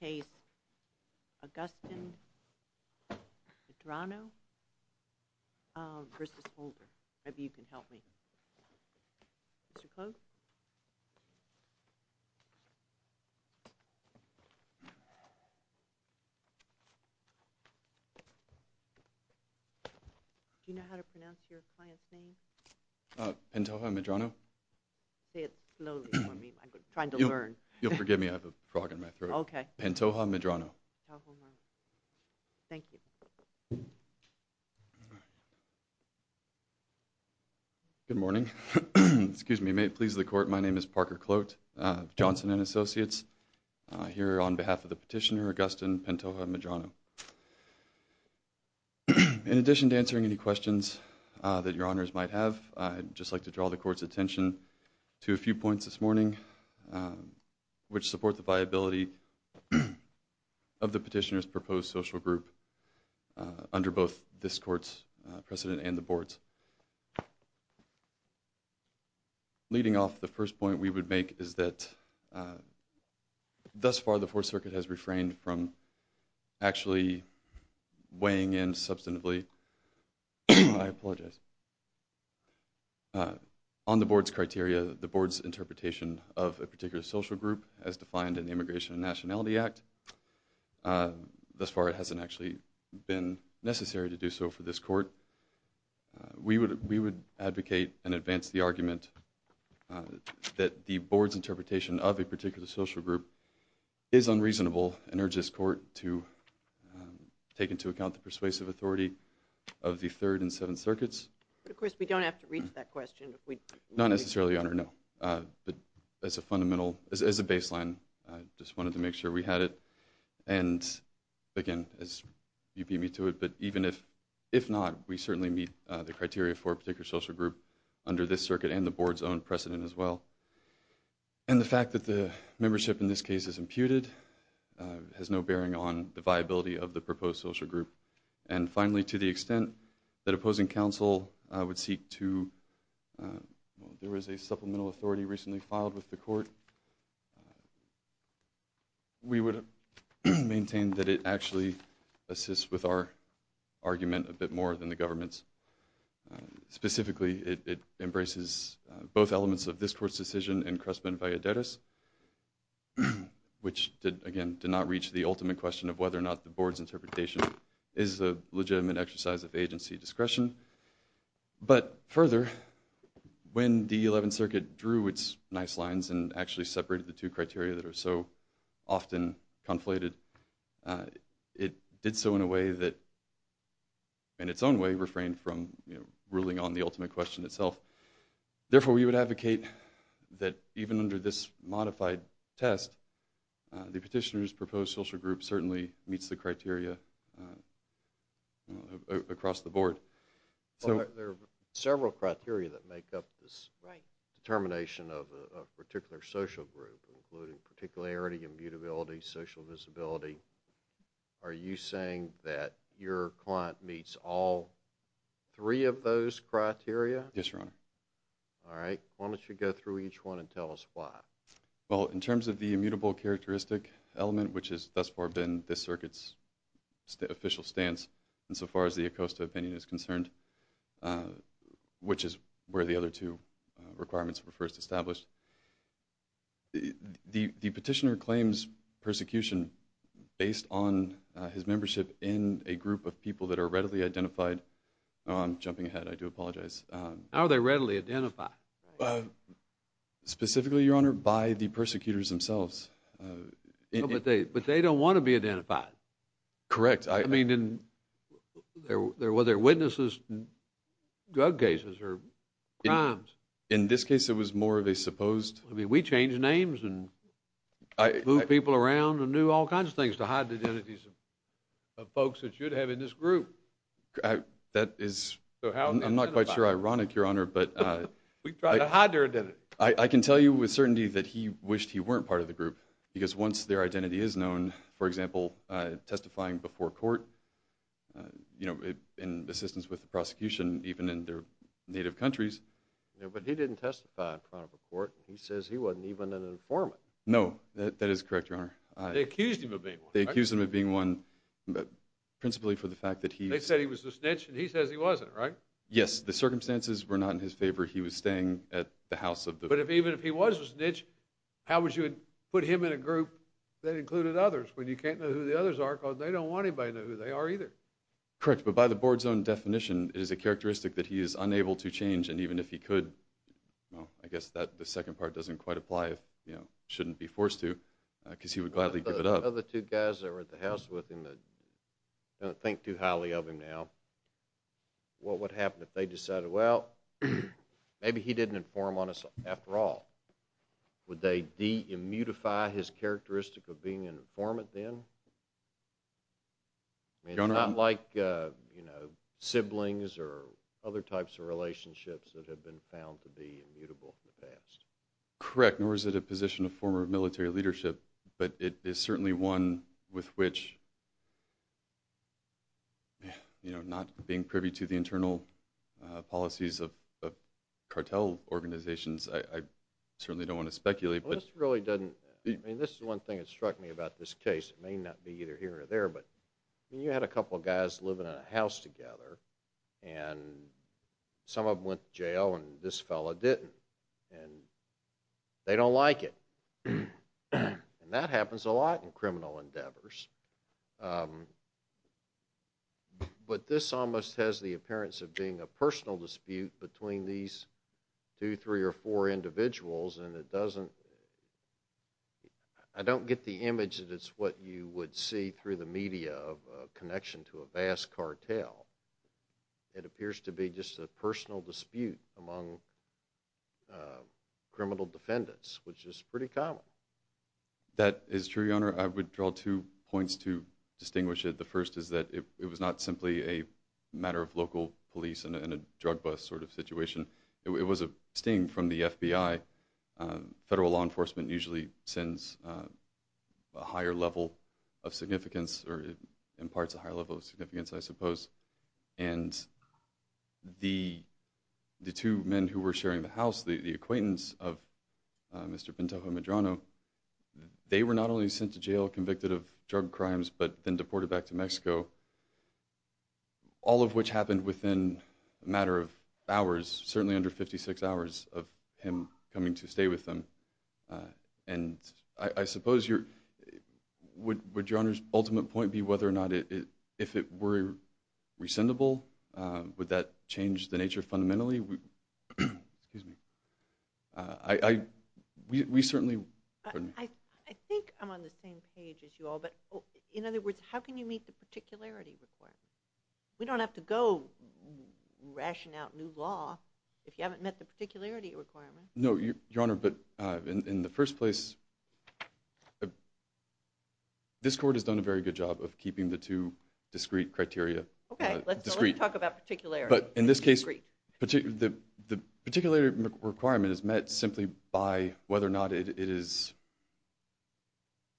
Do you know how to pronounce your client's name? Pantoja-Medrano. Say it slowly for me, I'm trying to learn. You'll forgive me, I have a frog in my throat. Okay. Pantoja-Medrano. Thank you. Good morning. Excuse me. May it please the Court, my name is Parker Clote of Johnson & Associates. I'm here on behalf of the petitioner, Augustin Pantoja-Medrano. In addition to answering any questions that your honors might have, I'd just like to draw the Court's attention to a few points this morning which support the viability of the petitioner's proposed social group under both this Court's precedent and the Board's. Leading off, the first point we would make is that thus far the Fourth Circuit has refrained from actually weighing in substantively. I apologize. On the Board's criteria, the Board's interpretation of a particular social group as defined in the Immigration and Nationality Act, thus far it hasn't actually been necessary to do so for this Court. We would advocate and advance the argument that the Board's interpretation of a particular social group is unreasonable and urge this Court to take into account the persuasive authority of the Third and Seventh Circuits. Of course, we don't have to reach that question. Not necessarily, Your Honor, no. But as a baseline, I just wanted to make sure we had it. And again, as you beat me to it, but even if not, we certainly meet the criteria for a particular social group under this circuit and the Board's own precedent as well. And the fact that the membership in this case is imputed has no bearing on the viability of the proposed social group. And finally, to the extent that opposing counsel would seek to, well, there was a supplemental authority recently filed with the Court. We would maintain that it actually assists with our argument a bit more than the government's. Specifically, it embraces both elements of this Court's decision and Crestman-Valladerez, which, again, did not reach the ultimate question of whether or not the Board's interpretation is a legitimate exercise of agency discretion. But further, when the Eleventh Circuit drew its nice lines and actually separated the two criteria that are so often conflated, it did so in a way that, in its own way, refrained from ruling on the ultimate question itself. Therefore, we would advocate that even under this modified test, the petitioner's proposed social group certainly meets the criteria across the Board. There are several criteria that make up this determination of a particular social group, including particularity, immutability, social visibility. Are you saying that your client meets all three of those criteria? Yes, Your Honor. All right. Why don't you go through each one and tell us why? Well, in terms of the immutable characteristic element, which has thus far been this Circuit's official stance insofar as the Acosta opinion is concerned, which is where the other two requirements were first established, the petitioner claims persecution based on his membership in a group of people that are readily identified. Oh, I'm jumping ahead. I do apologize. How are they readily identified? Specifically, Your Honor, by the persecutors themselves. But they don't want to be identified. Correct. I mean, were there witnesses in drug cases or crimes? In this case, it was more of a supposed. I mean, we changed names and moved people around and knew all kinds of things to hide identities of folks that you'd have in this group. That is, I'm not quite sure, ironic, Your Honor. We tried to hide their identity. I can tell you with certainty that he wished he weren't part of the group because once their identity is known, for example, testifying before court in assistance with the prosecution even in their native countries. But he didn't testify in front of a court. He says he wasn't even an informant. No, that is correct, Your Honor. They accused him of being one. They accused him of being one principally for the fact that he… They said he was a snitch and he says he wasn't, right? Yes. The circumstances were not in his favor. He was staying at the house of the… But even if he was a snitch, how would you put him in a group that included others when you can't know who the others are because they don't want anybody to know who they are either? Correct. But by the board's own definition, it is a characteristic that he is unable to change and even if he could, well, I guess the second part doesn't quite apply if, you know, shouldn't be forced to because he would gladly give it up. The other two guys that were at the house with him that don't think too highly of him now, what would happen if they decided, well, maybe he didn't inform on us after all? Would they de-immutify his characteristic of being an informant then? Your Honor… I mean, it's not like, you know, siblings or other types of relationships that have been found to be immutable in the past. Correct. Nor is it a position of former military leadership, but it is certainly one with which, you know, not being privy to the internal policies of cartel organizations, I certainly don't want to speculate, but… Well, this really doesn't… I mean, this is one thing that struck me about this case. It may not be either here or there, but you had a couple of guys living in a house together and some of them went to jail and this fellow didn't. And they don't like it. And that happens a lot in criminal endeavors. But this almost has the appearance of being a personal dispute between these two, three or four individuals and it doesn't… I don't get the image that it's what you would see through the media of a connection to a vast cartel. It appears to be just a personal dispute among criminal defendants, which is pretty common. That is true, Your Honor. I would draw two points to distinguish it. The first is that it was not simply a matter of local police and a drug bust sort of situation. It was a sting from the FBI. Federal law enforcement usually sends a higher level of significance or imparts a higher level of significance, I suppose. And the two men who were sharing the house, the acquaintance of Mr. Pintojo Medrano, they were not only sent to jail convicted of drug crimes but then deported back to Mexico, all of which happened within a matter of hours, certainly under 56 hours of him coming to stay with them. And I suppose, would Your Honor's ultimate point be whether or not if it were rescindable, would that change the nature fundamentally? We certainly… I think I'm on the same page as you all, but in other words, how can you meet the particularity requirement? We don't have to go ration out new law if you haven't met the particularity requirement. No, Your Honor, but in the first place, this court has done a very good job of keeping the two discrete criteria. Okay, let's talk about particularity. But in this case, the particularity requirement is met simply by whether or not it is…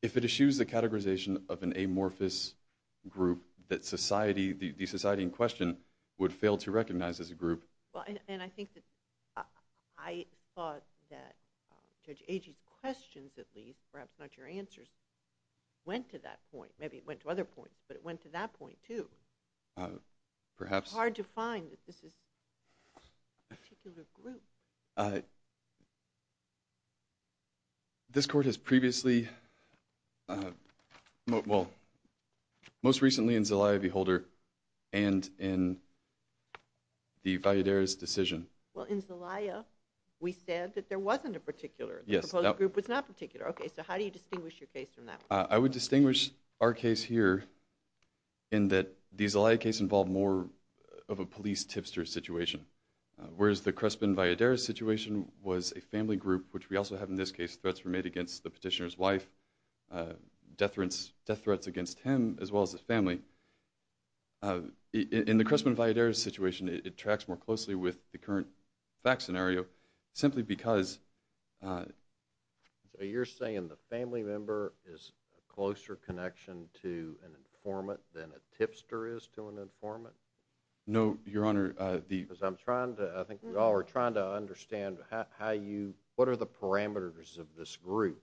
If it eschews the categorization of an amorphous group that society, the society in question, would fail to recognize as a group… And I think that… I thought that Judge Agee's questions at least, perhaps not your answers, went to that point. Maybe it went to other points, but it went to that point too. Perhaps… It's hard to find that this is a particular group. This court has previously… Well, most recently in Zelaya v. Holder and in the Valladares decision. Well, in Zelaya, we said that there wasn't a particular… Yes. The proposed group was not particular. Okay, so how do you distinguish your case from that one? I would distinguish our case here in that the Zelaya case involved more of a police tipster situation. Whereas the Crespin-Valladares situation was a family group, which we also have in this case, threats were made against the petitioner's wife, death threats against him as well as his family. In the Crespin-Valladares situation, it tracks more closely with the current fact scenario simply because… So you're saying the family member is a closer connection to an informant than a tipster is to an informant? No, Your Honor. Because I'm trying to… I think we all are trying to understand how you… What are the parameters of this group?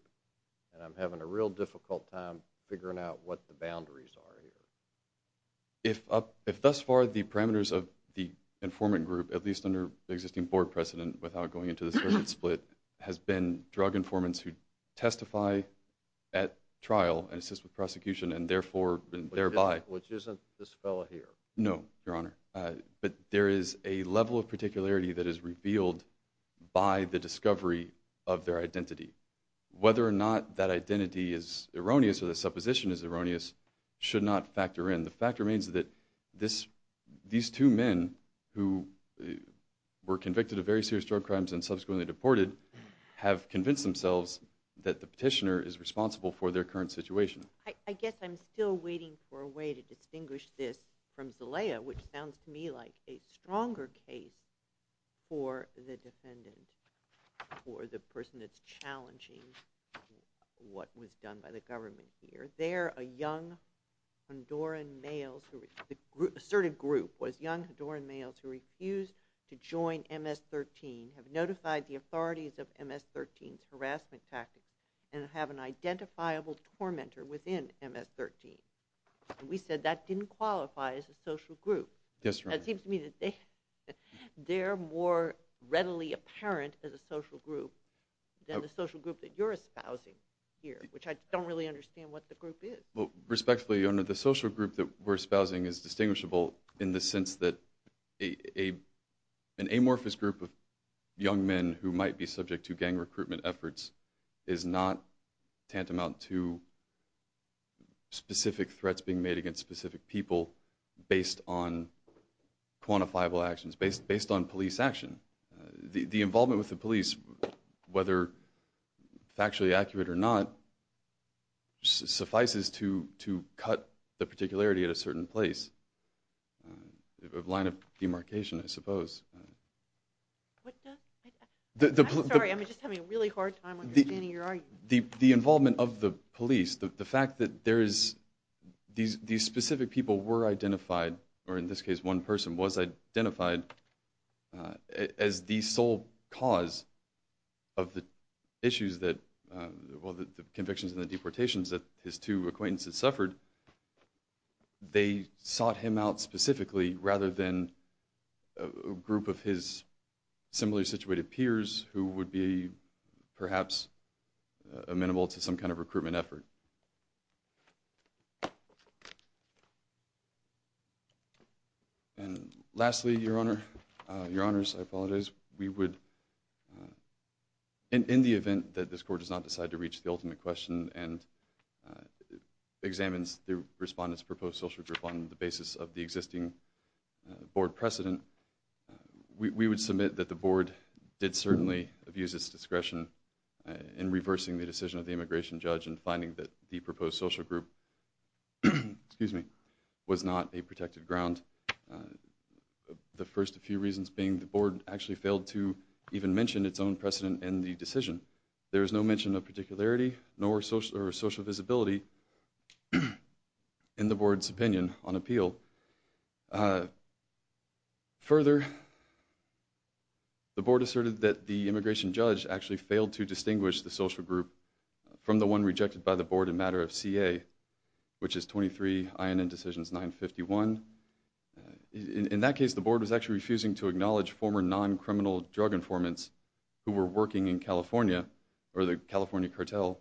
And I'm having a real difficult time figuring out what the boundaries are here. If thus far, the parameters of the informant group, at least under the existing board precedent without going into the split, has been drug informants who testify at trial and assist with prosecution and therefore… Which isn't this fellow here. No, Your Honor. But there is a level of particularity that is revealed by the discovery of their identity. Whether or not that identity is erroneous or the supposition is erroneous should not factor in. The fact remains that these two men who were convicted of very serious drug crimes and subsequently deported have convinced themselves that the petitioner is responsible for their current situation. I guess I'm still waiting for a way to distinguish this from Zelaya, which sounds to me like a stronger case for the defendant or the person that's challenging what was done by the government here. There, a young Honduran male… The asserted group was young Honduran males who refused to join MS-13, have notified the authorities of MS-13's harassment tactics, and have an identifiable tormentor within MS-13. And we said that didn't qualify as a social group. Yes, Your Honor. It seems to me that they're more readily apparent as a social group than the social group that you're espousing here, which I don't really understand what the group is. Respectfully, Your Honor, the social group that we're espousing is distinguishable in the sense that an amorphous group of young men who might be subject to gang recruitment efforts is not tantamount to specific threats being made against specific people based on quantifiable actions, based on police action. The involvement with the police, whether factually accurate or not, suffices to cut the particularity at a certain place. A line of demarcation, I suppose. I'm sorry, I'm just having a really hard time understanding your argument. The involvement of the police, the fact that there is… These specific people were identified, or in this case, one person was identified as the sole cause of the issues that… They sought him out specifically rather than a group of his similarly situated peers who would be perhaps amenable to some kind of recruitment effort. And lastly, Your Honor, Your Honors, I apologize. We would, in the event that this Court does not decide to reach the ultimate question and examines the Respondent's proposed social group on the basis of the existing Board precedent, we would submit that the Board did certainly abuse its discretion in reversing the decision of the immigration judge in finding that the proposed social group was not a protected ground. The first few reasons being the Board actually failed to even mention its own precedent in the decision. There was no mention of particularity nor social visibility in the Board's opinion on appeal. Further, the Board asserted that the immigration judge actually failed to distinguish the social group from the one rejected by the Board in matter of CA, which is 23 INN Decisions 951. In that case, the Board was actually refusing to acknowledge former non-criminal drug informants who were working in California or the California cartel.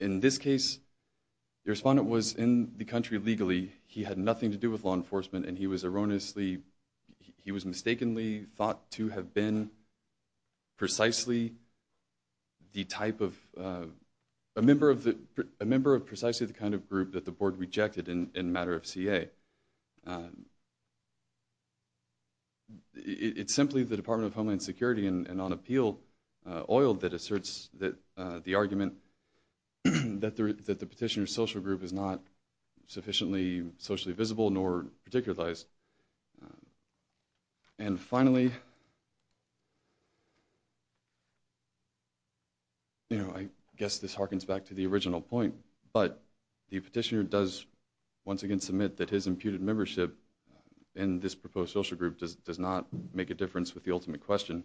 In this case, the Respondent was in the country legally. He had nothing to do with law enforcement and he was erroneously, he was mistakenly thought to have been precisely the type of, a member of precisely the kind of group that the Board rejected in matter of CA. It's simply the Department of Homeland Security and on appeal oil that asserts the argument that the Petitioner's social group is not sufficiently socially visible nor particularized. And finally, you know, I guess this harkens back to the original point, but the Petitioner does once again submit that his imputed membership in this proposed social group does not make a difference with the ultimate question.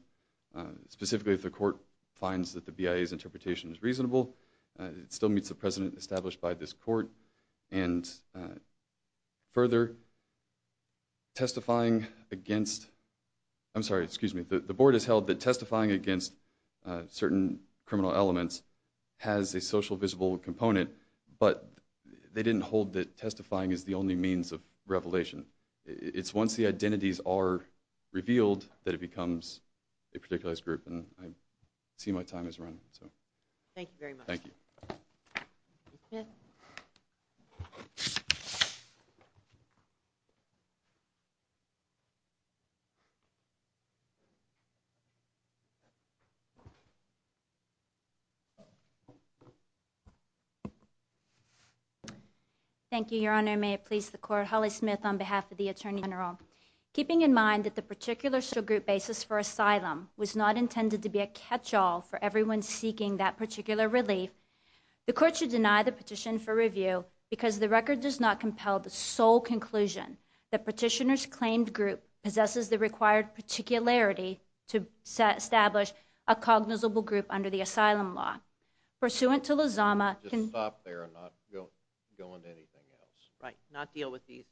Specifically, if the Court finds that the BIA's interpretation is reasonable, it still meets the precedent established by this Court. And further, testifying against, I'm sorry, excuse me, the Board has held that testifying against certain criminal elements has a social visible component, but they didn't hold that testifying is the only means of revelation. It's once the identities are revealed that it becomes a particularized group. And I see my time has run. Thank you very much. Thank you. Thank you, Your Honor. May it please the Court. Holly Smith on behalf of the Attorney General. Keeping in mind that the particular social group basis for asylum was not intended to be a catch-all for everyone seeking that particular relief, the Court should deny the petition for review because the record does not compel the sole conclusion that Petitioner's claimed group possesses the required particularity to establish a cognizable group under the asylum law. Pursuant to Lozama... Just stop there and not go into anything else. Right. Not deal with these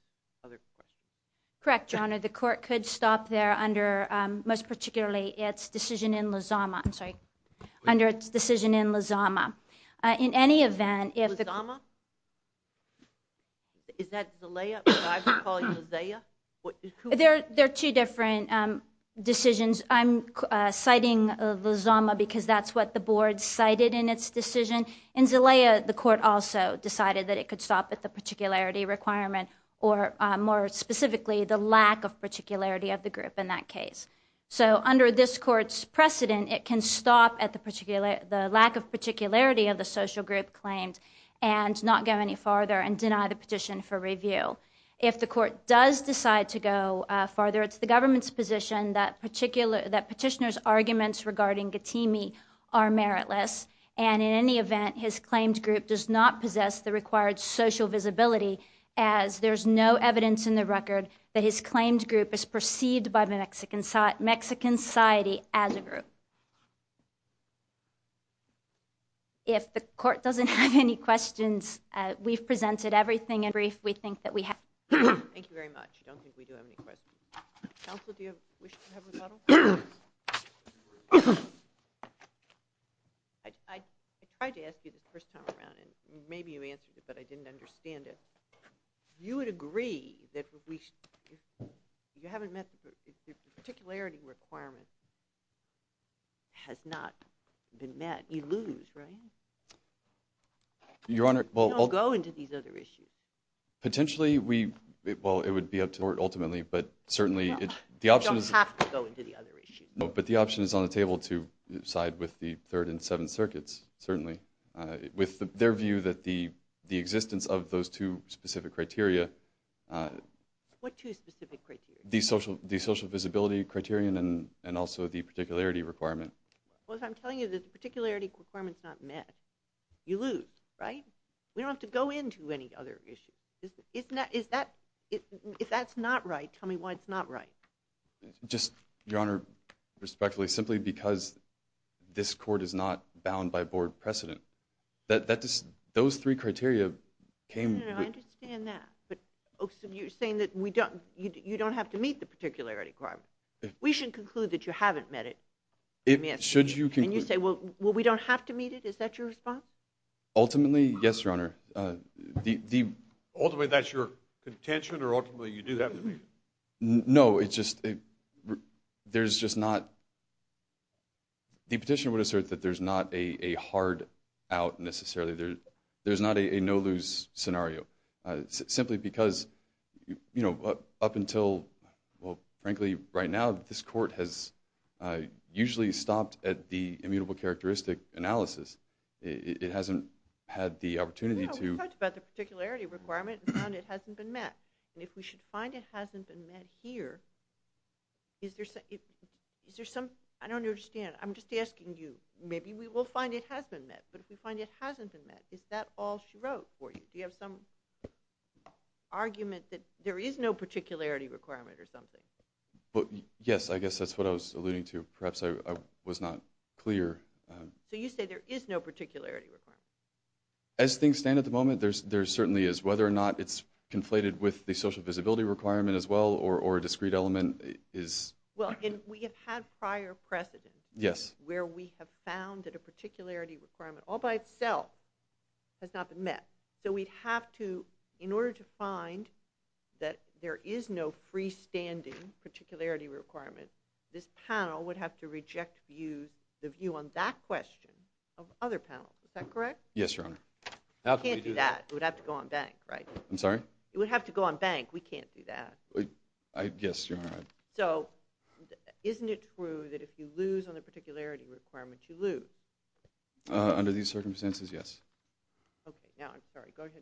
other questions. Correct, Your Honor. The Court could stop there under, most particularly, its decision in Lozama. I'm sorry. Under its decision in Lozama. In any event... Lozama? Is that the layup that I would call Lozaya? There are two different decisions. I'm citing Lozama because that's what the Board cited in its decision. In Zalaya, the Court also decided that it could stop at the particularity requirement or, more specifically, the lack of particularity of the group in that case. So under this Court's precedent, it can stop at the lack of particularity of the social group claimed and not go any farther and deny the petition for review. If the Court does decide to go farther, it's the government's position that petitioner's arguments regarding Getimi are meritless and, in any event, his claimed group does not possess the required social visibility as there's no evidence in the record that his claimed group is perceived by the Mexican society as a group. If the Court doesn't have any questions, we've presented everything in brief. Thank you very much. I don't think we do have any questions. Counsel, do you wish to have a rebuttal? I tried to ask you this the first time around, and maybe you answered it, but I didn't understand it. You would agree that you haven't met the particularity requirement. It has not been met. You lose, right? Your Honor, well... Potentially, well, it would be up to the Court ultimately, but certainly... You don't have to go into the other issues. No, but the option is on the table to side with the Third and Seventh Circuits, certainly, with their view that the existence of those two specific criteria... What two specific criteria? The social visibility criterion and also the particularity requirement. Well, if I'm telling you that the particularity requirement's not met, you lose, right? We don't have to go into any other issues. If that's not right, tell me why it's not right. Just, Your Honor, respectfully, simply because this Court is not bound by Board precedent, those three criteria came... No, no, no, I understand that, but you're saying that you don't have to meet the particularity requirement. We should conclude that you haven't met it. Should you conclude... And you say, well, we don't have to meet it? Is that your response? Ultimately, yes, Your Honor. Ultimately, that's your contention, or ultimately you do have to meet it? No, it's just... There's just not... The petitioner would assert that there's not a hard out, necessarily. There's not a no-lose scenario, simply because, you know, up until, well, frankly, right now, this Court has usually stopped at the immutable characteristic analysis. It hasn't had the opportunity to... No, we talked about the particularity requirement and found it hasn't been met. If we should find it hasn't been met here, is there some... I don't understand. I'm just asking you. Maybe we will find it has been met, but if we find it hasn't been met, is that all she wrote for you? Do you have some argument that there is no particularity requirement or something? Yes, I guess that's what I was alluding to. Perhaps I was not clear. So you say there is no particularity requirement? As things stand at the moment, there certainly is. Whether or not it's conflated with the social visibility requirement as well or a discrete element is... Well, and we have had prior precedence where we have found that a particularity requirement all by itself has not been met. So we'd have to, in order to find that there is no freestanding particularity requirement, this panel would have to reject the view on that question of other panels. Is that correct? Yes, Your Honor. We can't do that. It would have to go on bank, right? I'm sorry? It would have to go on bank. We can't do that. Yes, Your Honor. So isn't it true that if you lose on the particularity requirement, you lose? Under these circumstances, yes. Okay. Now, I'm sorry. Go ahead.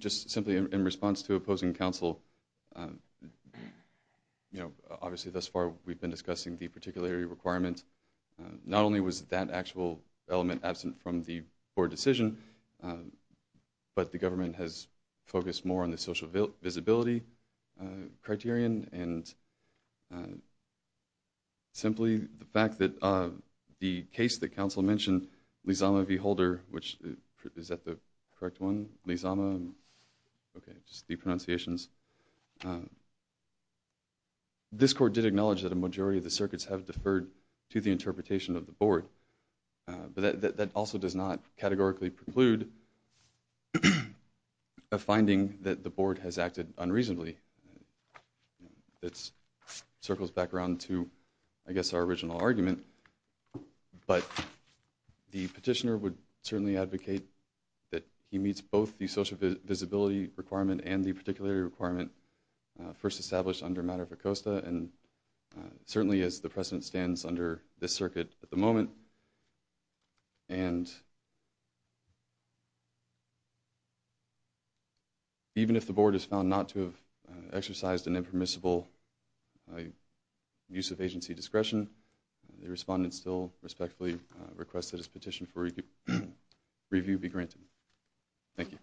Just simply in response to opposing counsel, you know, obviously thus far we've been discussing the particularity requirement. Not only was that actual element absent from the board decision, but the government has the case that counsel mentioned, Lizama v. Holder, which is that the correct one? Lizama? Okay. Just deep pronunciations. This court did acknowledge that a majority of the circuits have deferred to the interpretation of the board, but that also does not categorically preclude a finding that the board has acted unreasonably. It circles back around to, I guess, our original argument. But the petitioner would certainly advocate that he meets both the social visibility requirement and the particularity requirement first established under matter for COSTA, and certainly as the precedent stands under this circuit at the moment. And even if the board is found not to have exercised an impermissible use of agency discretion, the respondent still respectfully requests that his petition for review be granted. Thank you.